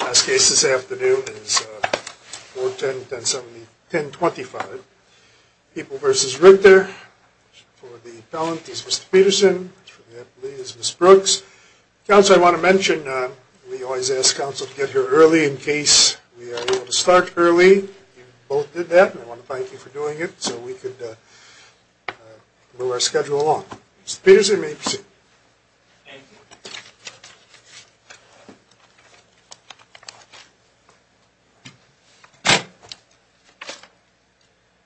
Last case this afternoon is 410, 1070, 1025. People v. Richter. For the appellant is Mr. Peterson. For the appellate is Ms. Brooks. Counsel, I want to mention we always ask counsel to get here early in case we are able to start early. You both did that, and I want to thank you for doing it so we could move our schedule along. Mr. Peterson, may we proceed? Thank you.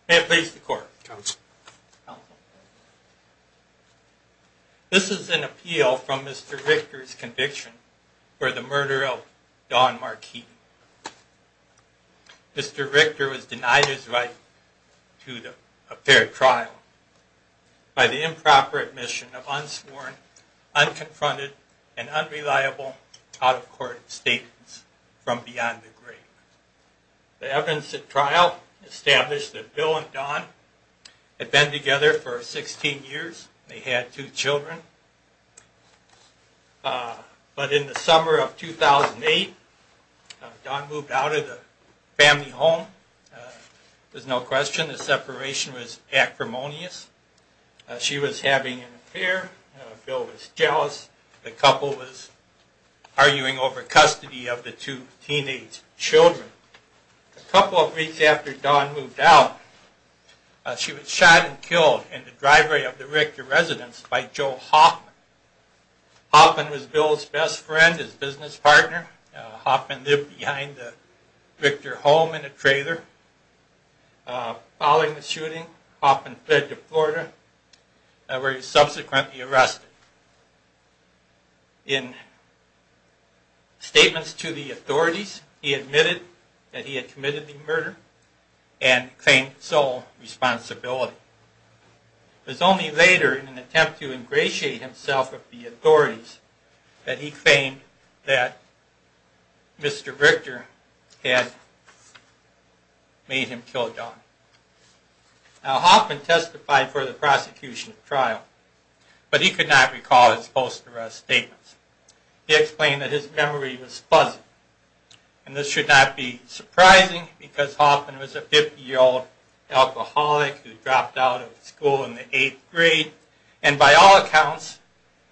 May it please the court. Counsel. Counsel. This is an appeal from Mr. Richter's conviction for the murder of Dawn Marquis. Mr. Richter was denied his right to a fair trial by the improper admission of unsworn, unconfronted, and unreliable out-of-court statements from beyond the grave. The evidence at trial established that Bill and Dawn had been together for 16 years. They had two children. But in the summer of 2008, Dawn moved out of the family home. There's no question the separation was acrimonious. She was having an affair. Bill was jealous. The couple was arguing over custody of the two teenage children. A couple of weeks after Dawn moved out, she was shot and killed in the driveway of the Richter residence by Joe Hoffman. Hoffman was Bill's best friend, his business partner. Hoffman lived behind the Richter home in a trailer. Following the shooting, Hoffman fled to Florida, where he was subsequently arrested. In statements to the authorities, he admitted that he had committed the murder and claimed sole responsibility. It was only later, in an attempt to ingratiate himself with the authorities, that he claimed that Mr. Richter had made him kill Dawn. Now, Hoffman testified for the prosecution at trial, but he could not recall his post-arrest statements. He explained that his memory was fuzzy. This should not be surprising, because Hoffman was a 50-year-old alcoholic who dropped out of school in the 8th grade, and by all accounts,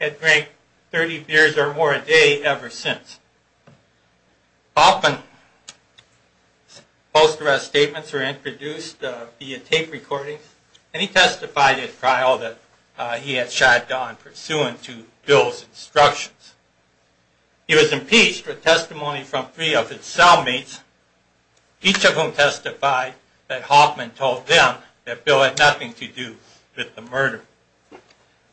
had drank 30 beers or more a day ever since. Hoffman's post-arrest statements were introduced via tape recordings, and he testified at trial that he had shot Dawn pursuant to Bill's instructions. He was impeached with testimony from three of his cellmates, each of whom testified that Hoffman told them that Bill had nothing to do with the murder.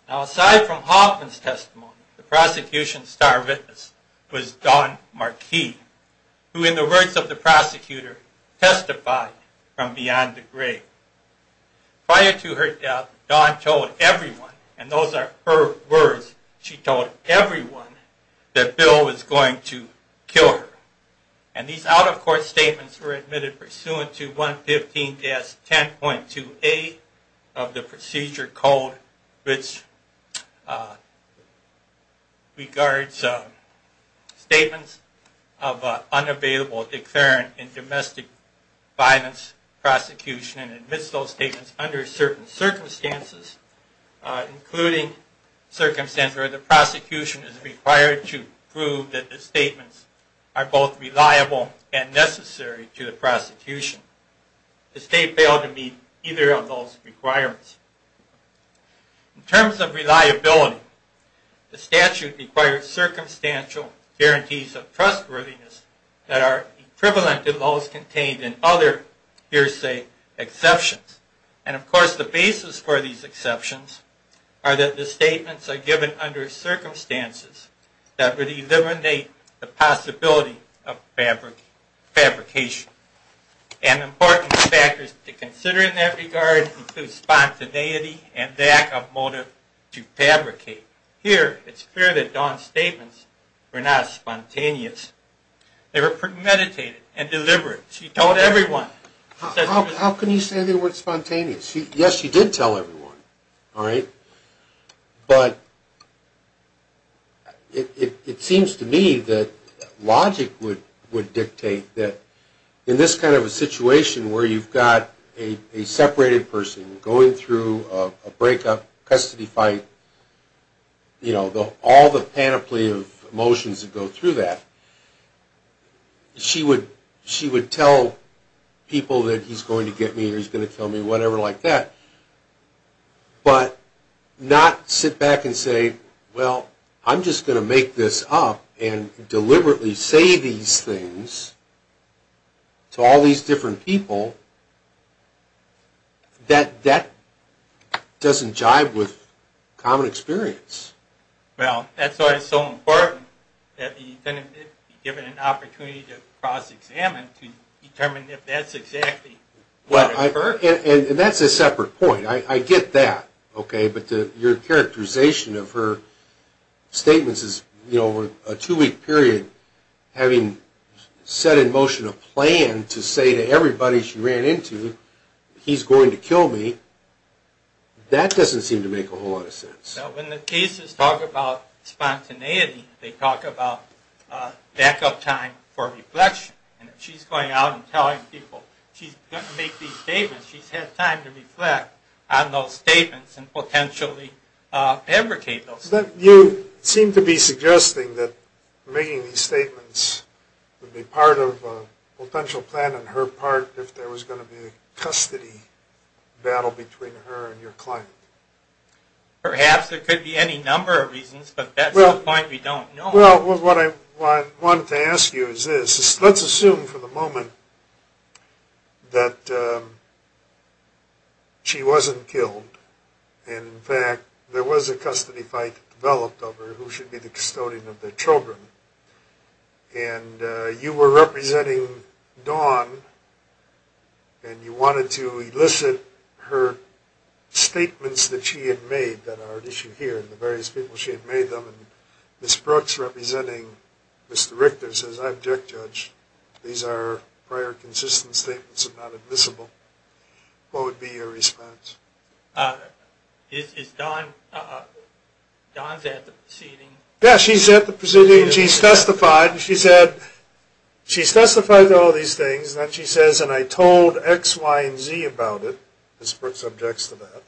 Now, aside from Hoffman's testimony, the prosecution's star witness was Dawn Marquis, who, in the words of the prosecutor, testified from beyond the grave. Prior to her death, Dawn told everyone, and those are her words, she told everyone that Bill was going to kill her. And these out-of-court statements were admitted pursuant to 115-10.2A of the Procedure Code, which regards statements of unavailable declarant in domestic violence prosecution and admits those statements under certain circumstances, including circumstances where the prosecution is required to prove that the statements are both reliable and necessary to the prosecution. The state failed to meet either of those requirements. In terms of reliability, the statute requires circumstantial guarantees of trustworthiness that are equivalent to those contained in other hearsay exceptions. And, of course, the basis for these exceptions are that the statements are given under circumstances that would eliminate the possibility of fabrication. And important factors to consider in that regard include spontaneity and lack of motive to fabricate. Here, it's clear that Dawn's statements were not spontaneous. They were premeditated and deliberate. She told everyone. How can you say they were spontaneous? Yes, she did tell everyone, all right? But it seems to me that logic would dictate that in this kind of a situation where you've got a separated person going through a breakup, custody fight, you know, all the panoply of emotions that go through that, she would tell people that he's going to get me or he's going to kill me, whatever like that. But not sit back and say, well, I'm just going to make this up and deliberately say these things to all these different people. That doesn't jive with common experience. Well, that's why it's so important that the defendant be given an opportunity to cross-examine to determine if that's exactly what occurred. And that's a separate point. I get that, okay? But your characterization of her statements is, you know, over a two-week period having set in motion a plan to say to everybody she ran into, he's going to kill me. That doesn't seem to make a whole lot of sense. When the cases talk about spontaneity, they talk about backup time for reflection. And if she's going out and telling people she's going to make these statements, she's had time to reflect on those statements and potentially advocate those statements. But you seem to be suggesting that making these statements would be part of a potential plan on her part if there was going to be a custody battle between her and your client. Perhaps. There could be any number of reasons, but that's the point we don't know. Well, what I wanted to ask you is this. Let's assume for the moment that she wasn't killed, and in fact there was a custody fight developed over who should be the custodian of the children. And you were representing Dawn, and you wanted to elicit her statements that she had made that are at issue here, and the various people she had made them, and Ms. Brooks, representing Mr. Richter, says, I object, Judge. These are prior consistent statements and not admissible. What would be your response? Is Dawn at the proceeding? Yeah, she's at the proceeding. She's testified. She said, she's testified to all these things, and then she says, and I told X, Y, and Z about it. Ms. Brooks objects to that.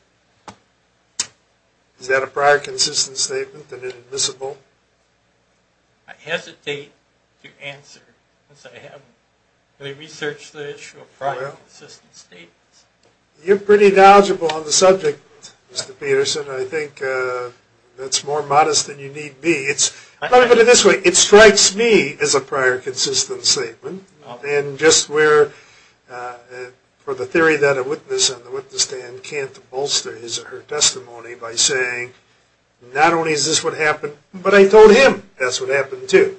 Is that a prior consistent statement and admissible? I hesitate to answer this. I haven't really researched the issue of prior consistent statements. You're pretty knowledgeable on the subject, Mr. Peterson. I think that's more modest than you need be. Let me put it this way. It strikes me as a prior consistent statement, and just where, for the theory that a witness and the witness stand can't bolster his or her testimony by saying, not only is this what happened, but I told him that's what happened, too.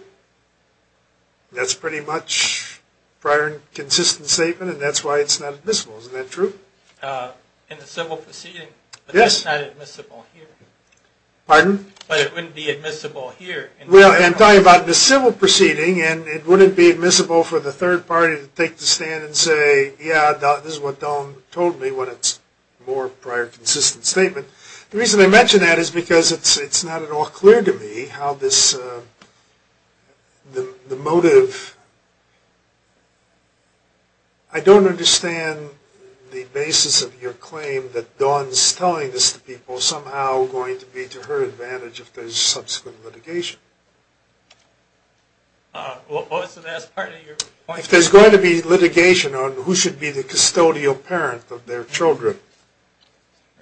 That's pretty much prior consistent statement, and that's why it's not admissible. Isn't that true? In the civil proceeding, but that's not admissible here. Pardon? But it wouldn't be admissible here. Well, I'm talking about the civil proceeding, and it wouldn't be admissible for the third party to take the stand and say, yeah, this is what Dawn told me, when it's more prior consistent statement. The reason I mention that is because it's not at all clear to me how this, the motive. I don't understand the basis of your claim that Dawn's telling this to people somehow going to be to her advantage if there's subsequent litigation. What was the last part of your question? If there's going to be litigation on who should be the custodial parent of their children,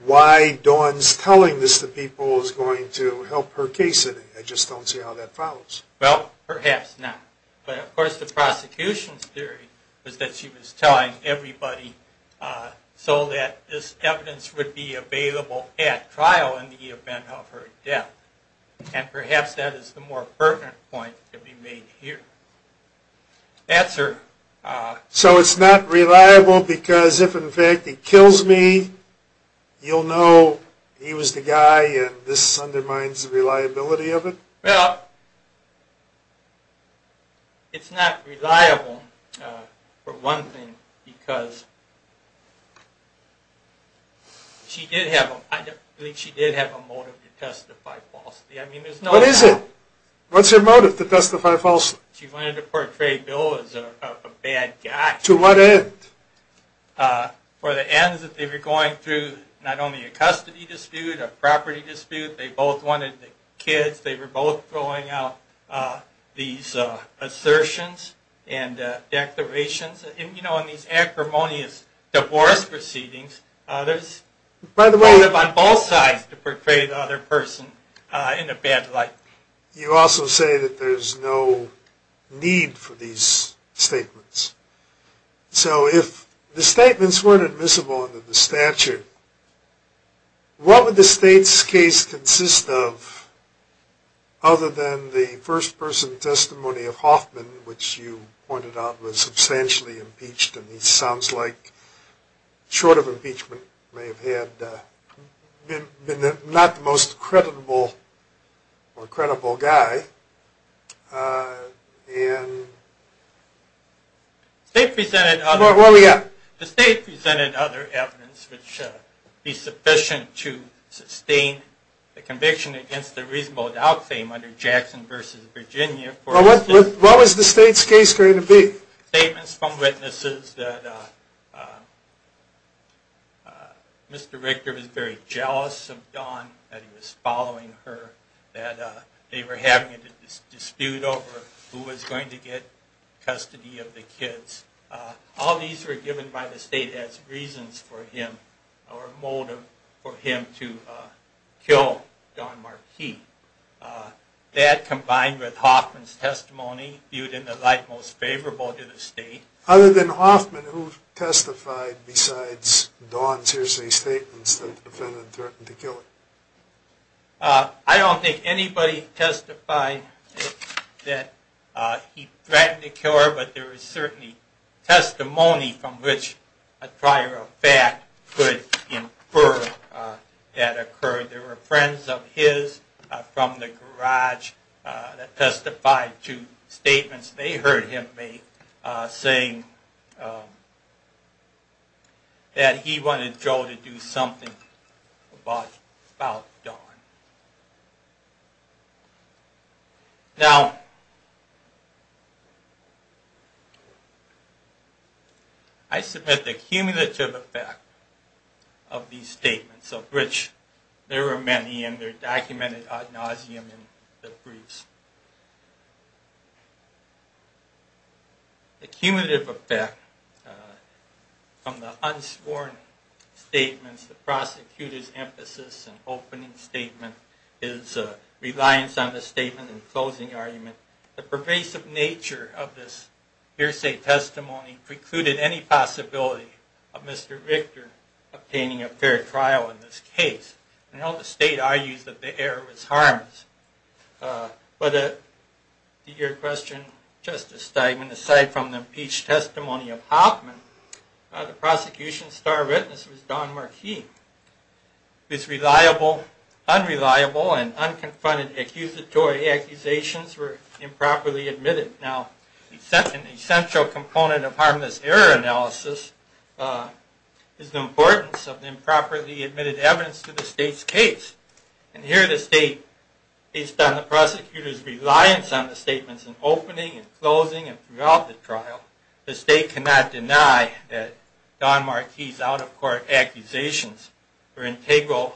why Dawn's telling this to people is going to help her case, and I just don't see how that follows. Well, perhaps not. But, of course, the prosecution's theory was that she was telling everybody so that this evidence would be available at trial in the event of her death, and perhaps that is the more pertinent point to be made here. So it's not reliable because if, in fact, he kills me, you'll know he was the guy and this undermines the reliability of it? Well, it's not reliable, for one thing, because she did have a motive to testify falsely. What is it? What's your motive to testify falsely? She wanted to portray Bill as a bad guy. To what end? For the ends that they were going through, not only a custody dispute, a property dispute. They both wanted the kids. They were both throwing out these assertions and declarations. You know, in these acrimonious divorce proceedings, there's motive on both sides to portray the other person in a bad light. You also say that there's no need for these statements. So if the statements weren't admissible under the statute, what would the state's case consist of other than the first-person testimony of Hoffman, which you pointed out was substantially impeached, and he sounds like, short of impeachment, may have been not the most credible guy. The state presented other evidence which would be sufficient to sustain the conviction against the reasonable doubt claim under Jackson v. Virginia. What was the state's case going to be? Statements from witnesses that Mr. Richter was very jealous of Don, that he was following her, that they were having a dispute over who was going to get custody of the kids. All these were given by the state as reasons for him, or motive for him to kill Don Marquis. That, combined with Hoffman's testimony, viewed in the light most favorable to the state. Other than Hoffman, who testified besides Don's hearsay statements that the defendant threatened to kill her? I don't think anybody testified that he threatened to kill her, but there was certainly testimony from which a prior fact could infer that occurred. There were friends of his from the garage that testified to statements they heard him make, saying that he wanted Joe to do something about Don. Now, I submit the cumulative effect of these statements, of which there are many, and they're documented ad nauseum in the briefs. The cumulative effect from the unsporn statements, the prosecutor's emphasis and opening statements, his reliance on the statement and closing argument, the pervasive nature of this hearsay testimony precluded any possibility of Mr. Victor obtaining a fair trial in this case. The state argues that the heir was harmless. But to your question, Justice Steigman, aside from the impeached testimony of Hoffman, the prosecution's star witness was Don Marquis, whose reliable, unreliable, and unconfronted accusatory accusations were improperly admitted. Now, an essential component of harmless error analysis is the importance of improperly admitted evidence to the state's case. And here the state, based on the prosecutor's reliance on the statements in opening and closing and throughout the trial, the state cannot deny that Don Marquis' out-of-court accusations were an integral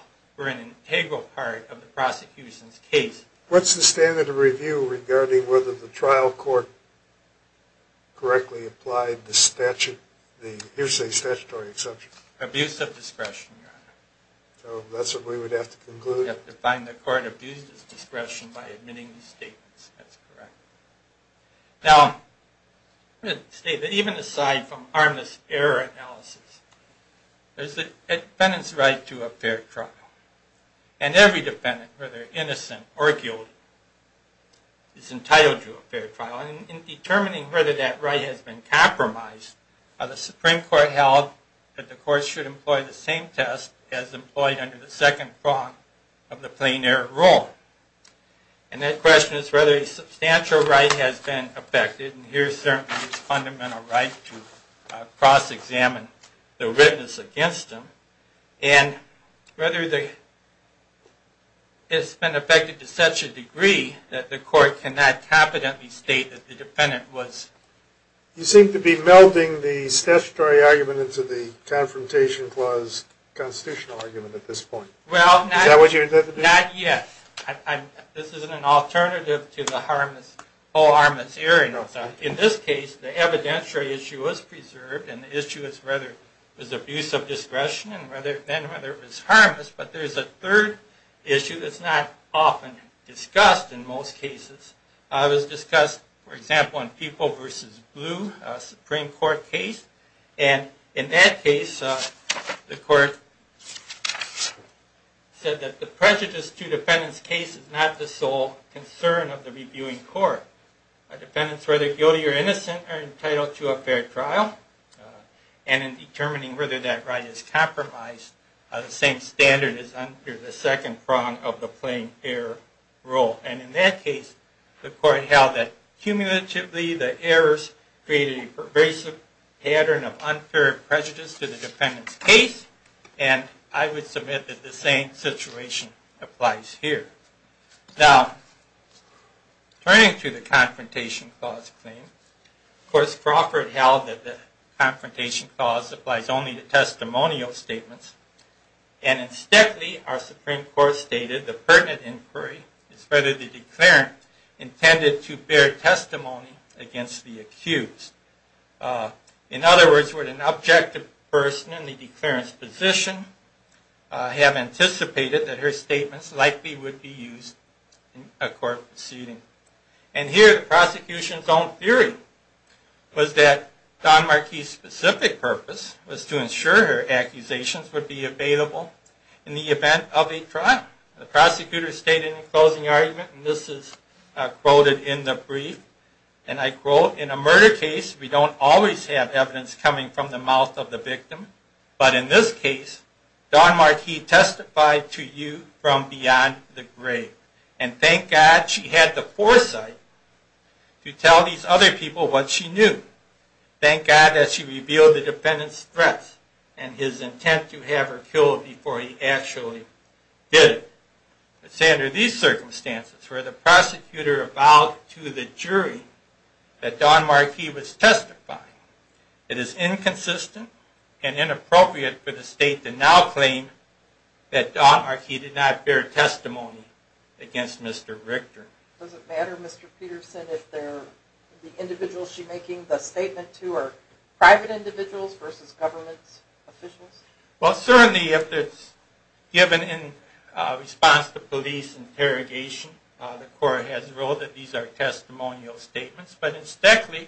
part of the prosecution's case. What's the standard of review regarding whether the trial court correctly applied the hearsay statutory exception? Abuse of discretion, Your Honor. So that's what we would have to conclude? We would have to find the court abused its discretion by admitting these statements. That's correct. Now, even aside from harmless error analysis, there's the defendant's right to a fair trial. And every defendant, whether innocent or guilty, is entitled to a fair trial. And in determining whether that right has been compromised, the Supreme Court held that the court should employ the same test as employed under the second front of the plain error rule. And that question is whether a substantial right has been affected. And here certainly it's a fundamental right to cross-examine the witness against him. And whether it's been affected to such a degree that the court cannot confidently state that the defendant was. You seem to be melding the statutory argument into the Confrontation Clause constitutional argument at this point. Well, not yet. This isn't an alternative to the whole harmless error analysis. In this case, the evidentiary issue is preserved. And the issue is whether it was abuse of discretion and then whether it was harmless. But there's a third issue that's not often discussed in most cases. It was discussed, for example, in People v. Blue, a Supreme Court case. And in that case, the court said that the prejudice to defendant's case is not the sole concern of the reviewing court. Defendants, whether guilty or innocent, are entitled to a fair trial. And in determining whether that right is compromised, the same standard is under the second front of the plain error rule. And in that case, the court held that cumulatively the errors created a basic pattern of unfair prejudice to the defendant's case. And I would submit that the same situation applies here. Now, turning to the Confrontation Clause claim, of course, Crawford held that the Confrontation Clause applies only to testimonial statements. And in Steadley, our Supreme Court stated the pertinent inquiry is whether the In other words, would an objective person in the declarant's position have anticipated that her statements likely would be used in a court proceeding? And here, the prosecution's own theory was that Don Marquis' specific purpose was to ensure her accusations would be available in the event of a trial. The prosecutor stated in the closing argument, and this is quoted in the brief, and I quote, In a murder case, we don't always have evidence coming from the mouth of the victim. But in this case, Don Marquis testified to you from beyond the grave. And thank God she had the foresight to tell these other people what she knew. Thank God that she revealed the defendant's threats and his intent to have her killed before he actually did it. Let's say under these circumstances, where the prosecutor avowed to the jury that Don Marquis was testifying, it is inconsistent and inappropriate for the state to now claim that Don Marquis did not bear testimony against Mr. Richter. Does it matter, Mr. Peterson, if the individuals she's making the statement to are private individuals versus government officials? Well, certainly if it's given in response to police interrogation, the court has ruled that these are testimonial statements. But in Speckley,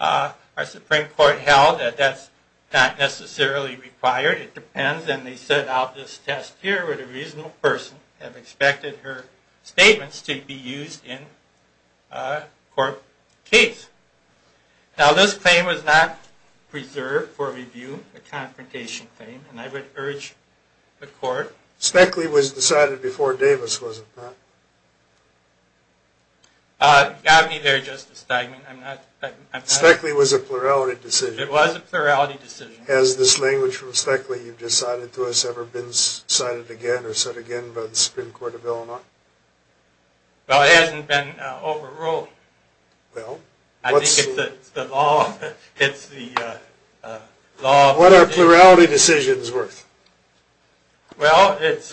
our Supreme Court held that that's not necessarily required. It depends. And they set out this test here where the reasonable person had expected her statements to be used in a court case. Now, this claim was not preserved for review, a confrontation claim, and I would urge the court- Speckley was decided before Davis, was it not? You got me there, Justice Steigman. Speckley was a plurality decision. It was a plurality decision. Has this language from Speckley you've just cited to us ever been cited again or said again by the Supreme Court of Illinois? Well, it hasn't been overruled. I think it's the law. What are plurality decisions worth? Well, it's-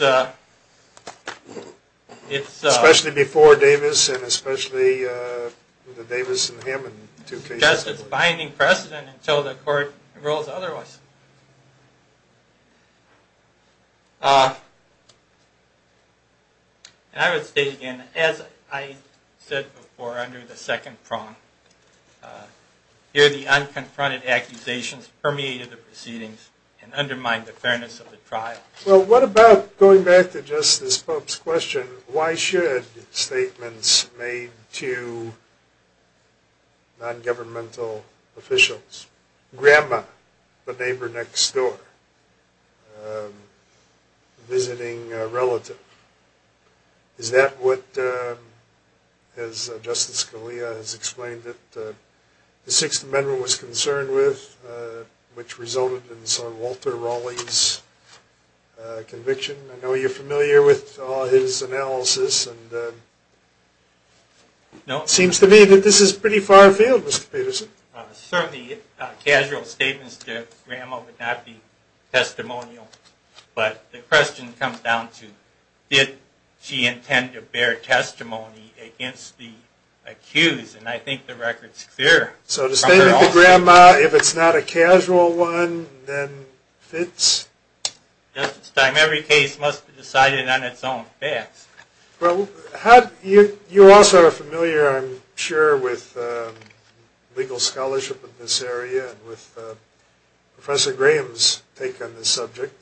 Especially before Davis and especially the Davis and Hammond two cases. Just as binding precedent until the court rules otherwise. And I would state again, as I said before under the second prong, here the unconfronted accusations permeated the proceedings and undermined the fairness of the trial. Well, what about going back to Justice Pope's question, why should statements made to non-governmental officials, grandma, the neighbor next door, visiting a relative, is that what, as Justice Scalia has explained it, the Sixth Amendment was concerned with, which resulted in Sir Walter Raleigh's conviction? I know you're familiar with all his analysis. No, it seems to me that this is pretty far afield, Mr. Peterson. Certainly, casual statements to grandma would not be testimonial. But the question comes down to, did she intend to bear testimony against the accused? And I think the record's clear. So the statement to grandma, if it's not a casual one, then fits? Justice Stein, every case must be decided on its own facts. You also are familiar, I'm sure, with legal scholarship in this area and with Professor Graham's take on this subject.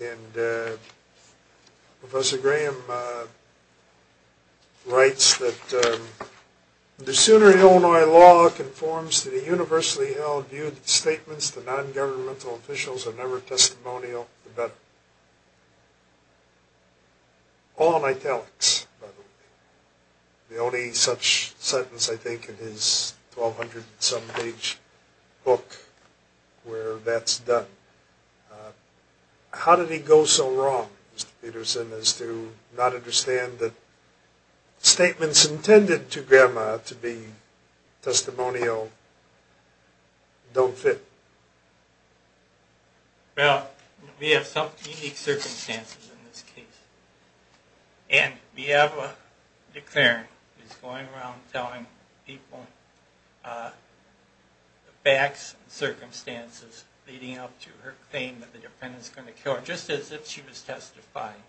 And Professor Graham writes that the sooner Illinois law conforms to the universally held view that statements to non-governmental officials are never testimonial, the better. All in italics, by the way. The only such sentence, I think, in his 1,200-and-some-page book where that's done. How did he go so wrong, Mr. Peterson, as to not understand that statements intended to grandma to be testimonial don't fit? Well, we have some unique circumstances in this case. And we have a declarant who's going around telling people the facts and circumstances leading up to her claim that the defendant's going to kill her, just as if she was testifying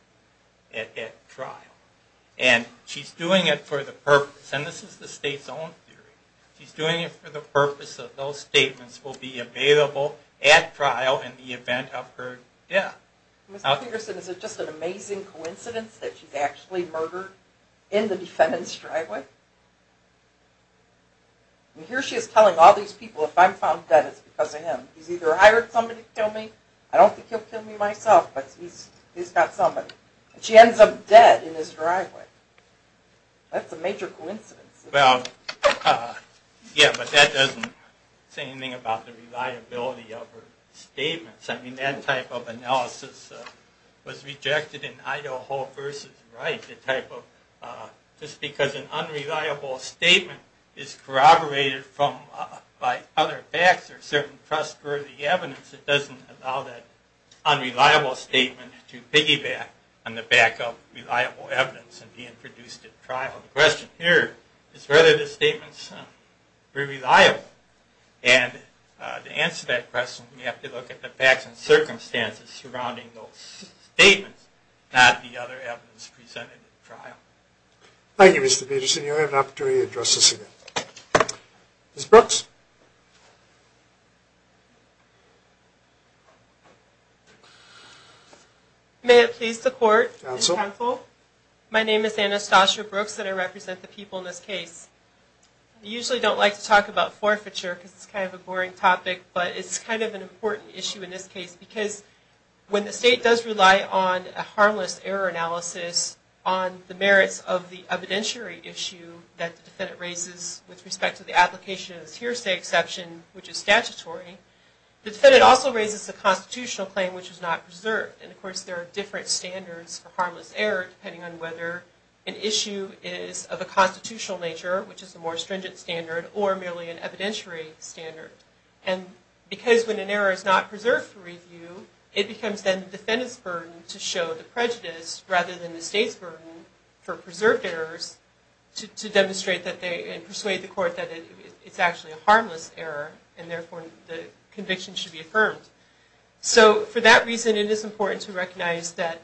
at trial. And she's doing it for the purpose, and this is the state's own theory, she's doing it for the purpose that those statements will be available at trial in the event of her death. Mr. Peterson, is it just an amazing coincidence that she's actually murdered in the defendant's driveway? Here she is telling all these people, if I'm found dead, it's because of him. He's either hired somebody to kill me. I don't think he'll kill me myself, but he's got somebody. And she ends up dead in his driveway. That's a major coincidence. Yeah, but that doesn't say anything about the reliability of her statements. I mean, that type of analysis was rejected in Idaho v. Wright, the type of just because an unreliable statement is corroborated by other facts or certain trustworthy evidence, it doesn't allow that unreliable statement to piggyback on the backup reliable evidence being produced at trial. The question here is whether the statements were reliable. And to answer that question, we have to look at the facts and circumstances surrounding those statements, not the other evidence presented at trial. Thank you, Mr. Peterson. You'll have an opportunity to address this again. Ms. Brooks? May it please the court and counsel, my name is Anastasia Brooks and I represent the people in this case. I usually don't like to talk about forfeiture because it's kind of a boring topic, but it's kind of an important issue in this case because when the state does rely on a harmless error analysis on the merits of the evidentiary issue that the defendant raises with respect to the application which is statutory, the defendant also raises a constitutional claim which is not preserved. And of course there are different standards for harmless error depending on whether an issue is of a constitutional nature, which is a more stringent standard, or merely an evidentiary standard. And because when an error is not preserved for review, it becomes then the defendant's burden to show the prejudice rather than the state's burden for preserved errors to demonstrate and persuade the court that it's actually a harmless error and therefore the conviction should be affirmed. So for that reason it is important to recognize that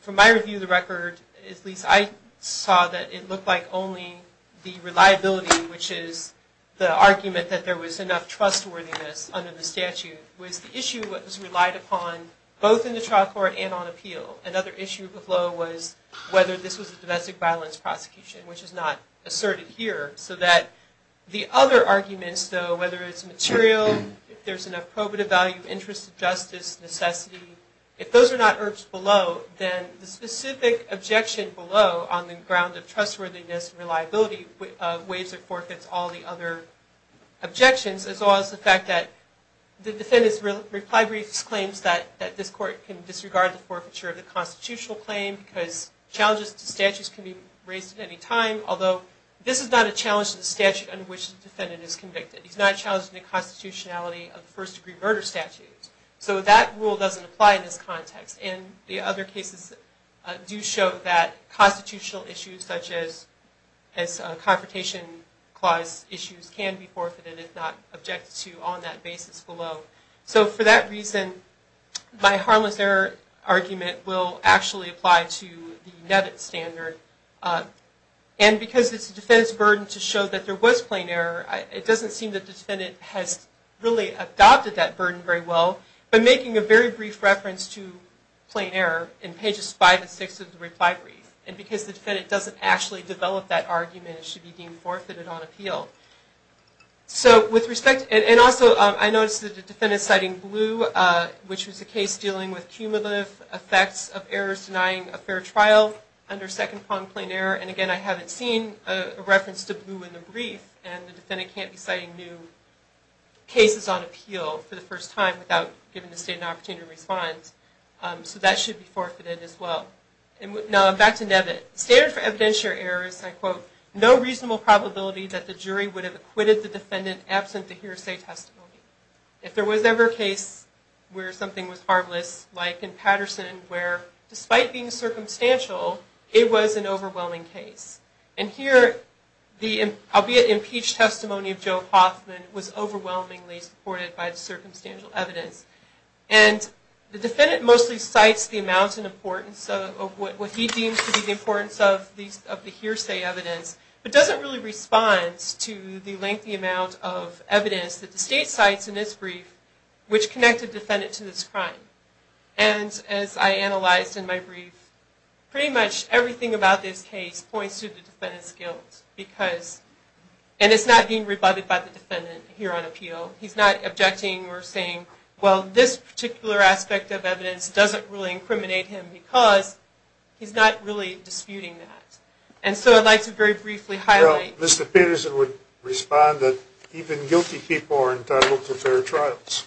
from my review of the record, at least I saw that it looked like only the reliability, which is the argument that there was enough trustworthiness under the statute, was the issue that was relied upon both in the trial court and on appeal. Another issue with Lowe was whether this was a domestic violence prosecution, which is not asserted here. So that the other arguments though, whether it's material, if there's enough probative value, interest in justice, necessity, if those are not urged below, then the specific objection below on the ground of trustworthiness, reliability, waives or forfeits, all the other objections, as well as the fact that the defendant's reply brief exclaims that this court can disregard the forfeiture of the constitutional claim because challenges to statutes can be raised at any time, although this is not a challenge to the statute under which the defendant is convicted. It's not a challenge to the constitutionality of the first degree murder statute. So that rule doesn't apply in this context and the other cases do show that constitutional issues, such as confrontation clause issues, can be forfeited if not objected to on that basis below. So for that reason, my harmless error argument will actually apply to the Nevitt standard. And because it's the defendant's burden to show that there was plain error, it doesn't seem that the defendant has really adopted that burden very well by making a very brief reference to plain error in pages 5 and 6 of the reply brief. And because the defendant doesn't actually develop that argument, it should be deemed forfeited on appeal. So with respect, and also I noticed that the defendant's citing Blue, which was a case dealing with cumulative effects of errors denying a fair trial under Second Pond Plain Error, and again I haven't seen a reference to Blue in the brief, and the defendant can't be citing new cases on appeal for the first time without giving the state an opportunity to respond. So that should be forfeited as well. Now back to Nevitt. The standard for evidentiary error is, I quote, no reasonable probability that the jury would have acquitted the defendant absent the hearsay testimony. If there was ever a case where something was harmless, like in Patterson, where despite being circumstantial, it was an overwhelming case. And here the, albeit impeached, testimony of Joe Hoffman was overwhelmingly supported by the circumstantial evidence. And the defendant mostly cites the amount and importance of what he deems to be the importance of the hearsay evidence, but doesn't really respond to the lengthy amount of evidence that the state cites in this brief, which connected the defendant to this crime. And as I analyzed in my brief, pretty much everything about this case points to the defendant's guilt, because, and it's not being rebutted by the defendant here on appeal. He's not objecting or saying, well, this particular aspect of evidence doesn't really incriminate him, because he's not really disputing that. And so I'd like to very briefly highlight... Well, Mr. Peterson would respond that even guilty people are entitled to fair trials.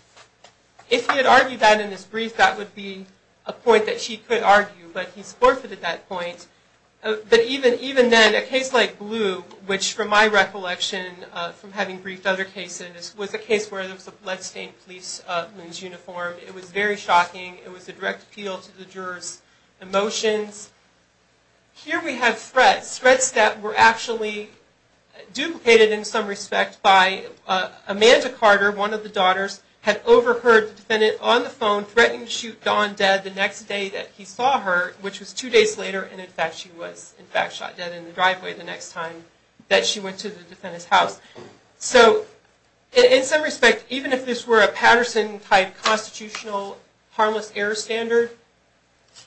If he had argued that in his brief, that would be a point that he could argue, but he's forfeited that point. But even then, a case like Blue, which from my recollection, from having briefed other cases, was a case where there was a bloodstained policeman's uniform. It was very shocking. It was a direct appeal to the juror's emotions. Here we have threats. Threats that were actually duplicated in some respect by Amanda Carter, one of the daughters, had overheard the defendant on the phone threatening to shoot Dawn dead the next day that he saw her, which was two days later. And in fact, she was in fact shot dead in the driveway the next time that she went to the defendant's house. So in some respect, even if this were a Patterson-type constitutional harmless error standard,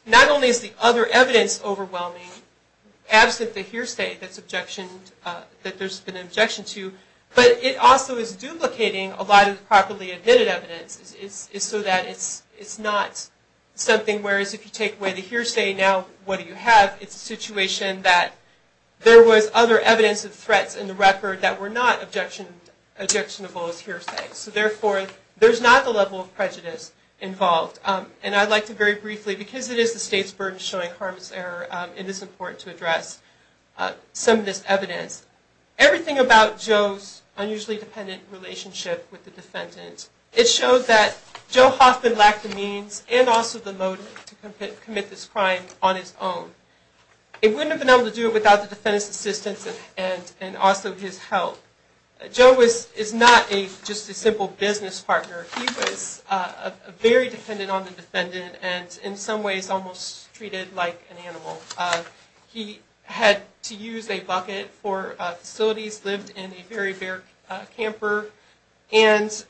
not only is the other evidence overwhelming, absent the hearsay that there's been an objection to, but it also is duplicating a lot of the properly admitted evidence so that it's not something... If you take away the hearsay, now what do you have? It's a situation that there was other evidence of threats in the record that were not objectionable as hearsay. So therefore, there's not the level of prejudice involved. And I'd like to very briefly, because it is the state's burden showing harmless error, it is important to address some of this evidence. Everything about Joe's unusually dependent relationship with the defendant, it showed that Joe Hoffman lacked the means and also the motive to commit this crime on his own. He wouldn't have been able to do it without the defendant's assistance and also his help. Joe is not just a simple business partner. He was very dependent on the defendant and in some ways almost treated like an animal. He had to use a bucket for facilities, lived in a very bare camper, and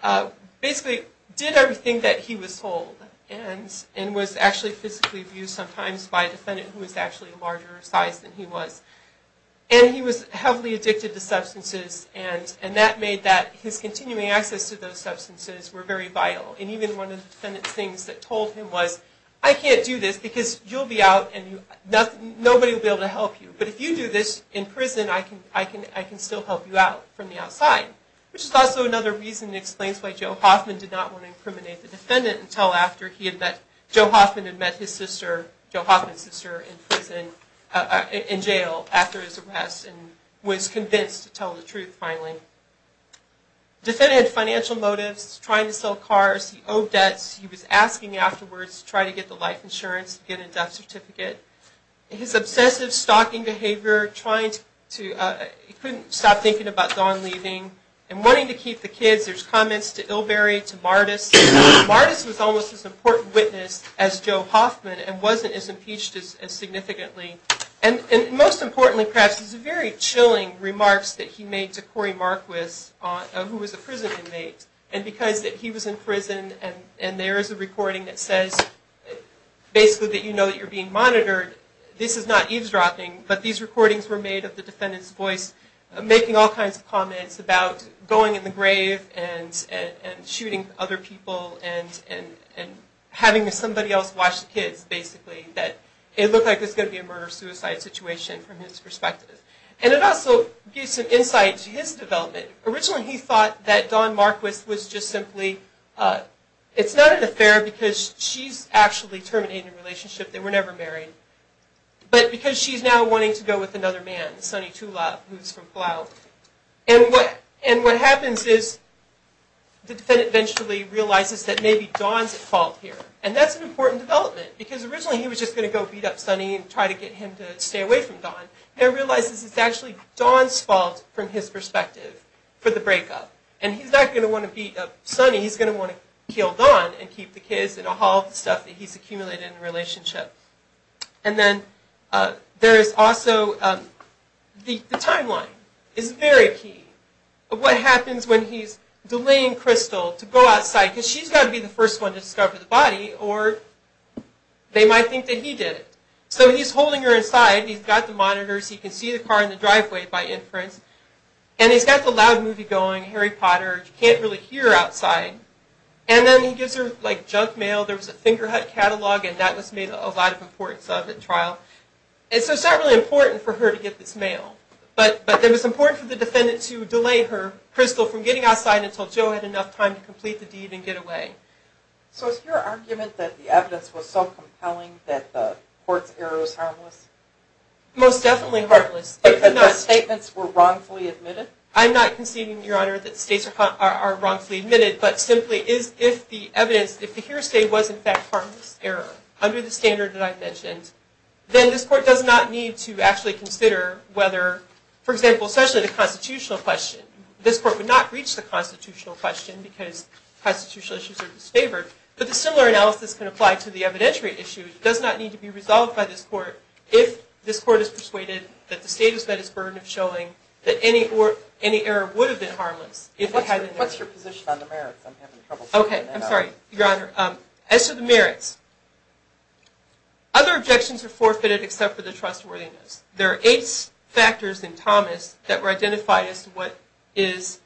basically did everything that he was told, and was actually physically abused sometimes by a defendant who was actually a larger size than he was. And he was heavily addicted to substances, and that made that his continuing access to those substances were very vital. And even one of the defendant's things that told him was, I can't do this because you'll be out and nobody will be able to help you. But if you do this in prison, I can still help you out from the outside. Which is also another reason that explains why Joe Hoffman did not want to incriminate the defendant until after Joe Hoffman had met his sister, Joe Hoffman's sister, in jail after his arrest and was convinced to tell the truth finally. The defendant had financial motives, trying to sell cars, he owed debts, he was asking afterwards to try to get the life insurance and get a death certificate. His obsessive stalking behavior, he couldn't stop thinking about Dawn leaving, and wanting to keep the kids. There's comments to Ilberry, to Mardis. Mardis was almost as important a witness as Joe Hoffman, and wasn't as impeached as significantly. And most importantly, perhaps, is the very chilling remarks that he made to Corey Marquis, who was a prison inmate. And because he was in prison, and there is a recording that says, basically that you know that you're being monitored, this is not eavesdropping, but these recordings were made of the defendant's voice making all kinds of comments about going in the grave and shooting other people and having somebody else watch the kids, basically. That it looked like there was going to be a murder-suicide situation from his perspective. And it also gives some insight to his development. Originally he thought that Dawn Marquis was just simply, it's not an affair because she's actually terminating the relationship. They were never married. But because she's now wanting to go with another man, Sonny Tulop, who's from Plow. And what happens is, the defendant eventually realizes that maybe Dawn's at fault here. And that's an important development. Because originally he was just going to go beat up Sonny and try to get him to stay away from Dawn. And realizes it's actually Dawn's fault, from his perspective, for the breakup. And he's not going to want to beat up Sonny, he's going to want to kill Dawn and keep the kids and all the stuff that he's accumulated in the relationship. And then there is also, the timeline is very key. What happens when he's delaying Crystal to go outside, because she's got to be the first one to discover the body, or they might think that he did it. So he's holding her inside, he's got the monitors, he can see the car in the driveway by inference. And he's got the loud movie going, Harry Potter, you can't really hear outside. And then he gives her junk mail, there was a Fingerhut catalog, and that was made a lot of importance of at trial. And so it's not really important for her to get this mail. But it was important for the defendant to delay her, Crystal, from getting outside until Joe had enough time to complete the deed and get away. So is your argument that the evidence was so compelling that the court's error was harmless? Most definitely harmless. But the statements were wrongfully admitted? I'm not conceding, Your Honor, that the statements are wrongfully admitted, but simply if the evidence, if the hearsay was in fact harmless error, under the standard that I've mentioned, then this court does not need to actually consider whether, for example, especially the constitutional question. This court would not reach the constitutional question because constitutional issues are disfavored. But the similar analysis can apply to the evidentiary issue. It does not need to be resolved by this court if this court is persuaded that the state has met its burden of showing that any error would have been harmless. What's your position on the merits? Okay, I'm sorry, Your Honor. As to the merits, other objections are forfeited except for the trustworthiness. There are eight factors in Thomas that were identified as to what is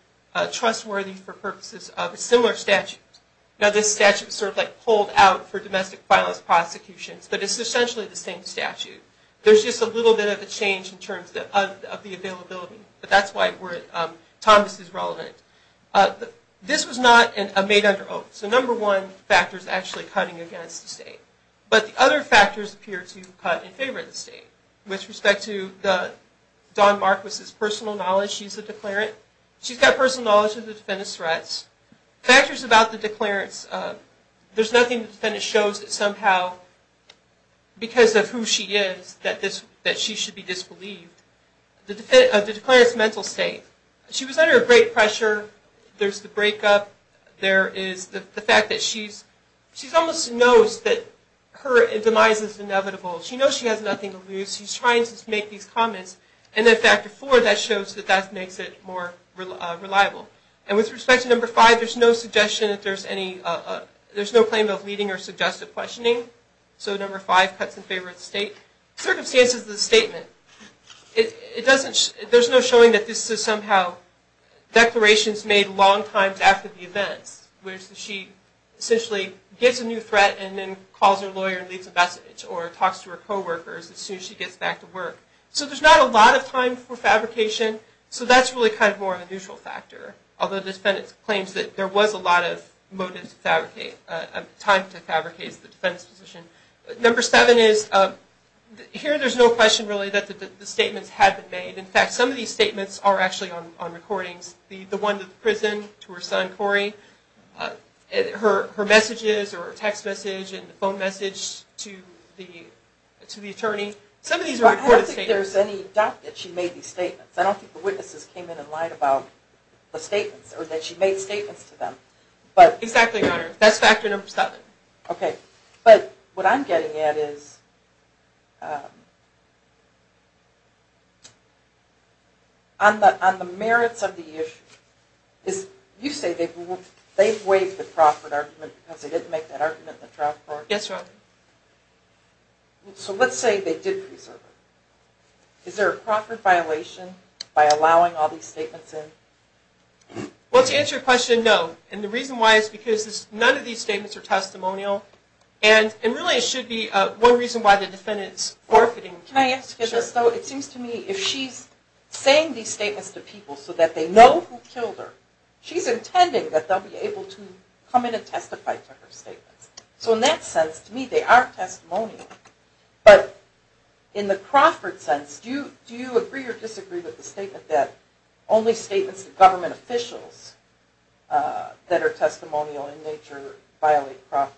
trustworthy for purposes of a similar statute. Now this statute was sort of like pulled out for domestic violence prosecutions, but it's essentially the same statute. There's just a little bit of a change in terms of the availability. But that's why Thomas is relevant. This was not made under oath. So number one factor is actually cutting against the state. But the other factors appear to cut in favor of the state. With respect to Dawn Marquis' personal knowledge, she's a declarant. She's got personal knowledge of the defendant's threats. Factors about the declarants, there's nothing that shows that somehow because of who she is that she should be disbelieved. The declarant's mental state, she was under great pressure. There's the breakup. There is the fact that she almost knows that her demise is inevitable. She knows she has nothing to lose. She's trying to make these comments. And then factor four, that shows that that makes it more reliable. And with respect to number five, there's no claim of leading or suggestive questioning. So number five cuts in favor of the state. Circumstances of the statement. There's no showing that this is somehow declarations made long time after the events, where she essentially gets a new threat and then calls her lawyer and leaves a message or talks to her coworkers as soon as she gets back to work. So there's not a lot of time for fabrication. So that's really kind of more of a neutral factor. Although the defendant claims that there was a lot of time to fabricate the defendant's position. Number seven is, here there's no question really that the statements had been made. In fact, some of these statements are actually on recordings. The one to the prison, to her son Cory. Her messages or text message and phone message to the attorney. Some of these are recorded statements. I don't think there's any doubt that she made these statements. I don't think the witnesses came in and lied about the statements or that she made statements to them. Exactly, Your Honor. That's factor number seven. Okay. But what I'm getting at is, on the merits of the issue, you say they waived the Crawford argument because they didn't make that argument in the trial court? Yes, Your Honor. So let's say they did preserve it. Is there a Crawford violation by allowing all these statements in? Well, to answer your question, no. And the reason why is because none of these statements are testimonial. And really it should be one reason why the defendant's forfeiting. Can I ask you this though? It seems to me if she's saying these statements to people so that they know who killed her, she's intending that they'll be able to come in and testify to her statements. So in that sense, to me, they are testimonial. But in the Crawford sense, do you agree or disagree with the statement that only statements to government officials that are testimonial in nature violate Crawford?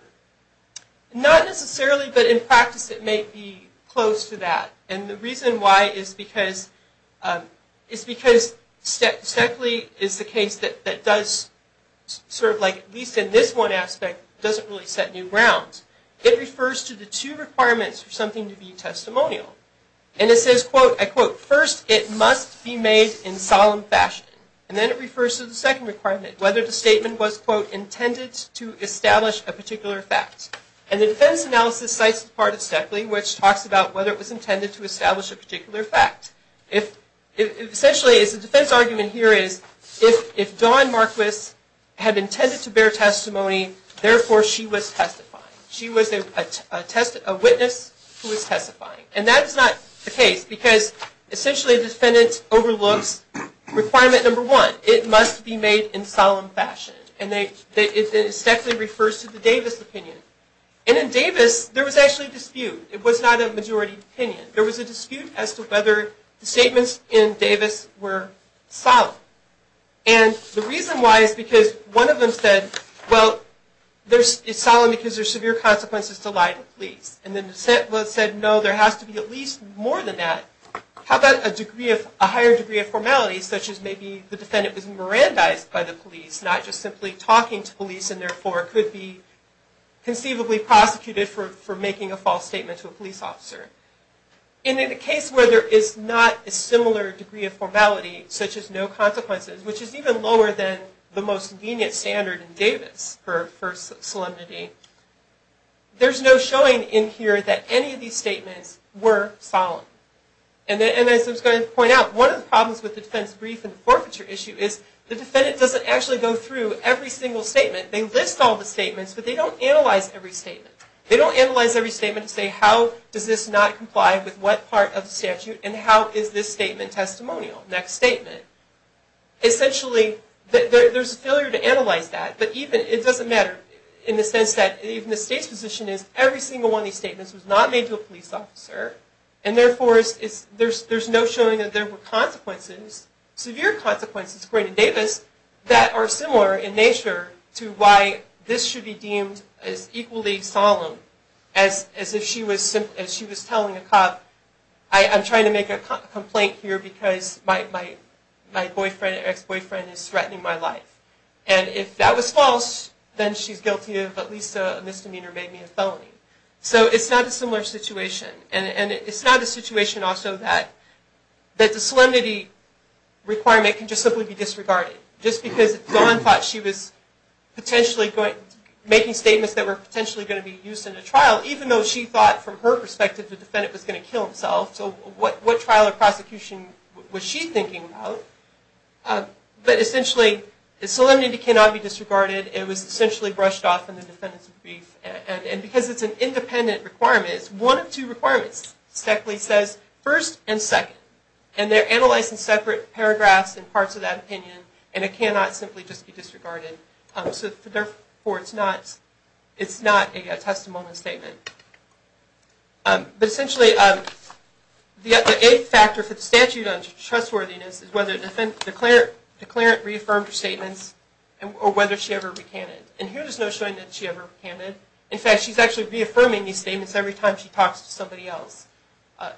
Not necessarily, but in practice it may be close to that. And the reason why is because Stekley is the case that does, sort of like at least in this one aspect, doesn't really set new grounds. It refers to the two requirements for something to be testimonial. And it says, quote, I quote, first it must be made in solemn fashion. And then it refers to the second requirement, whether the statement was, quote, intended to establish a particular fact. And the defense analysis cites the part of Stekley which talks about whether it was intended to establish a particular fact. Essentially, the defense argument here is if Dawn Marquis had intended to bear testimony, therefore she was testifying. She was a witness who was testifying. And that is not the case because essentially the defendant overlooks requirement number one, it must be made in solemn fashion. And Stekley refers to the Davis opinion. And in Davis, there was actually a dispute. It was not a majority opinion. There was a dispute as to whether the statements in Davis were solemn. And the reason why is because one of them said, well, it's solemn because there's severe consequences to lying to police. And the other said, no, there has to be at least more than that. How about a higher degree of formality, such as maybe the defendant was mirandized by the police, not just simply talking to police and therefore could be conceivably prosecuted for making a false statement to a police officer. And in a case where there is not a similar degree of formality, such as no consequences, which is even lower than the most lenient standard in Davis for solemnity, there's no showing in here that any of these statements were solemn. And as I was going to point out, one of the problems with the defense brief and the forfeiture issue is the defendant doesn't actually go through every single statement. They list all the statements, but they don't analyze every statement. They don't analyze every statement and say how does this not comply with what part of the statute and how is this statement testimonial, next statement. Essentially, there's a failure to analyze that, but it doesn't matter in the sense that even the state's position is every single one of these statements was not made to a police officer and therefore there's no showing that there were consequences, severe consequences, according to Davis, that are similar in nature to why this should be deemed as equally solemn as if she was telling a cop, I'm trying to make a complaint here because my ex-boyfriend is threatening my life. And if that was false, then she's guilty of at least a misdemeanor, maybe a felony. So it's not a similar situation. And it's not a situation also that the solemnity requirement can just simply be disregarded. Just because Dawn thought she was potentially making statements that were potentially going to be used in a trial, even though she thought from her perspective the defendant was going to kill himself. So what trial or prosecution was she thinking about? But essentially, solemnity cannot be disregarded. It was essentially brushed off in the defendant's brief. And because it's an independent requirement, it's one of two requirements. Steckley says, first and second. And they're analyzed in separate paragraphs and parts of that opinion. And it cannot simply just be disregarded. So therefore, it's not a testimony statement. But essentially, the eighth factor for the statute on trustworthiness is whether the declarant reaffirmed her statements or whether she ever recanted. And here there's no showing that she ever recanted. In fact, she's actually reaffirming these statements every time she talks to somebody else.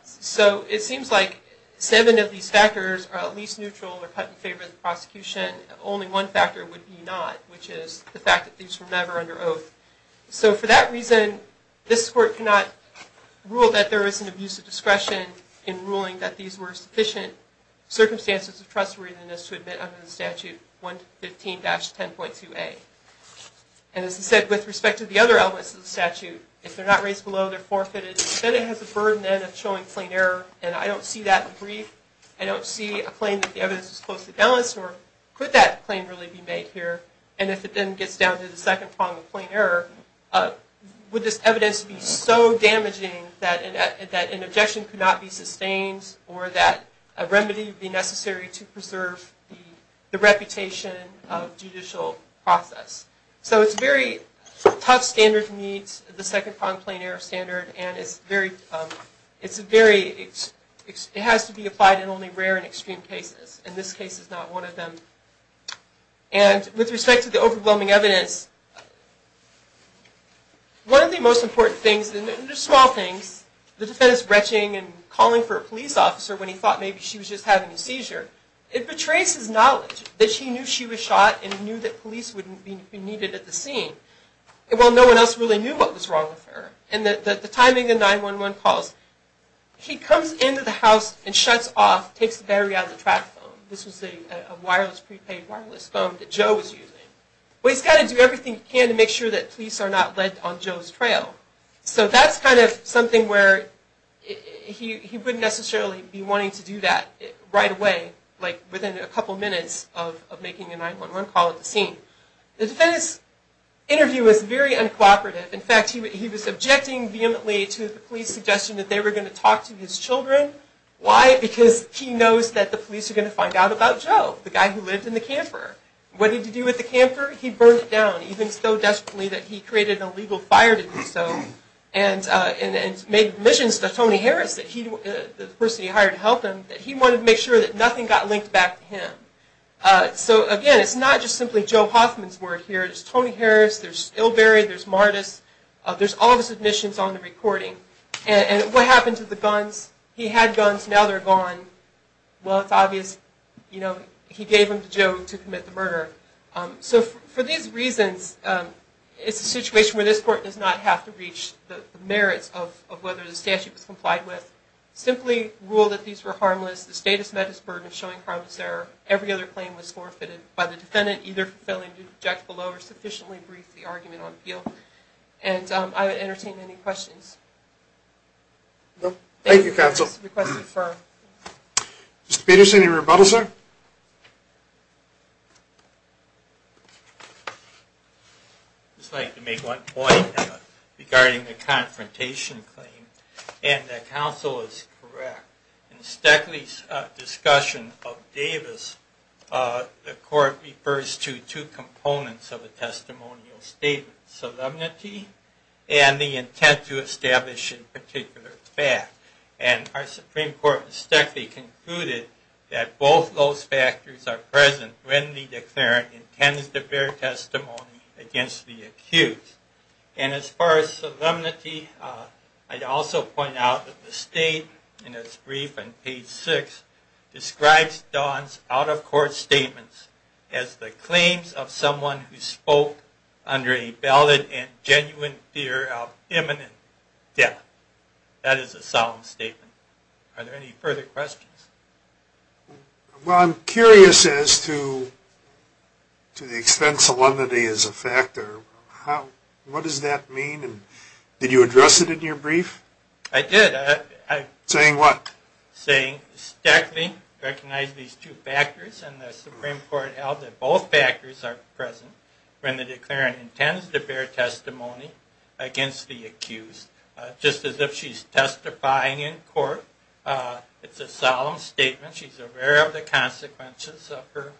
So it seems like seven of these factors are at least neutral or cut in favor of the prosecution. Only one factor would be not, which is the fact that these were never under oath. So for that reason, this court cannot rule that there is an abuse of discretion in ruling that these were sufficient circumstances of trustworthiness to admit under the statute 115-10.2a. And as I said, with respect to the other elements of the statute, if they're not raised below, they're forfeited, then it has the burden then of showing plain error. And I don't see that in the brief. I don't see a claim that the evidence is closely balanced, nor could that claim really be made here. And if it then gets down to the second prong of plain error, would this evidence be so damaging that an objection could not be sustained or that a remedy would be necessary to preserve the reputation of judicial process? So it's very tough standard to meet, the second prong of plain error standard, and it has to be applied in only rare and extreme cases. In this case, it's not one of them. And with respect to the overwhelming evidence, one of the most important things, and they're small things, is the defense retching and calling for a police officer when he thought maybe she was just having a seizure. It betrays his knowledge that he knew she was shot and he knew that police wouldn't be needed at the scene. Well, no one else really knew what was wrong with her. And the timing of 911 calls, he comes into the house and shuts off, takes the battery out of the track phone. This was a prepaid wireless phone that Joe was using. Well, he's got to do everything he can to make sure that police are not led on Joe's trail. So that's kind of something where he wouldn't necessarily be wanting to do that right away, like within a couple minutes of making a 911 call at the scene. The defense interview was very uncooperative. In fact, he was objecting vehemently to the police suggestion that they were going to talk to his children. Why? Because he knows that the police are going to find out about Joe, the guy who lived in the camper. What did he do with the camper? He burned it down, even so desperately that he created an illegal fire to do so, and made admissions to Tony Harris, the person he hired to help him, that he wanted to make sure that nothing got linked back to him. So, again, it's not just simply Joe Hoffman's word here. There's Tony Harris, there's Ilberry, there's Mardis. There's all of his admissions on the recording. And what happened to the guns? He had guns, now they're gone. Well, it's obvious, you know, he gave them to Joe to commit the murder. So, for these reasons, it's a situation where this court does not have to reach the merits of whether the statute was complied with. Simply rule that these were harmless. The state has met its burden of showing harmless error. Every other claim was forfeited by the defendant, either for failing to object below or sufficiently brief the argument on appeal. And I would entertain any questions. Thank you, counsel. Mr. Peterson, any rebuttal, sir? I'd just like to make one point regarding the confrontation claim. And the counsel is correct. In Steckley's discussion of Davis, the court refers to two components of a testimonial statement. Solemnity and the intent to establish a particular fact. And our Supreme Court in Steckley concluded that both those factors are present when the declarant intends to bear testimony against the accused. And as far as solemnity, I'd also point out that the state, in its brief on page 6, describes Don's out-of-court statements as the claims of someone who spoke under a valid and genuine fear of imminent death. That is a solemn statement. Are there any further questions? Well, I'm curious as to the extent solemnity is a factor. What does that mean? Did you address it in your brief? I did. Saying what? Saying Steckley recognized these two factors, and the Supreme Court held that both factors are present when the declarant intends to bear testimony against the accused. Just as if she's testifying in court, it's a solemn statement. She's aware of the consequences of her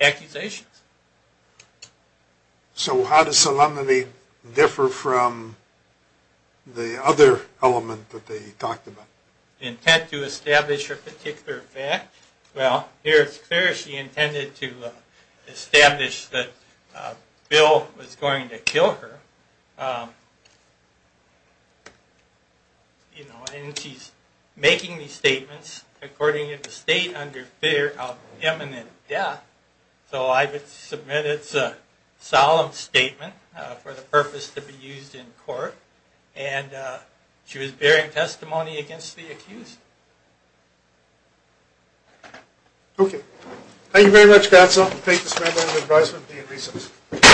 accusations. So how does solemnity differ from the other element that they talked about? The intent to establish a particular fact. Well, here it's clear she intended to establish that Bill was going to kill her. And she's making these statements according to the state under fear of imminent death. So I would submit it's a solemn statement for the purpose to be used in court. And she was bearing testimony against the accused. Okay. Thank you very much. That's all. Thank you, Mr. Randolph, for your advisement. Be in recess.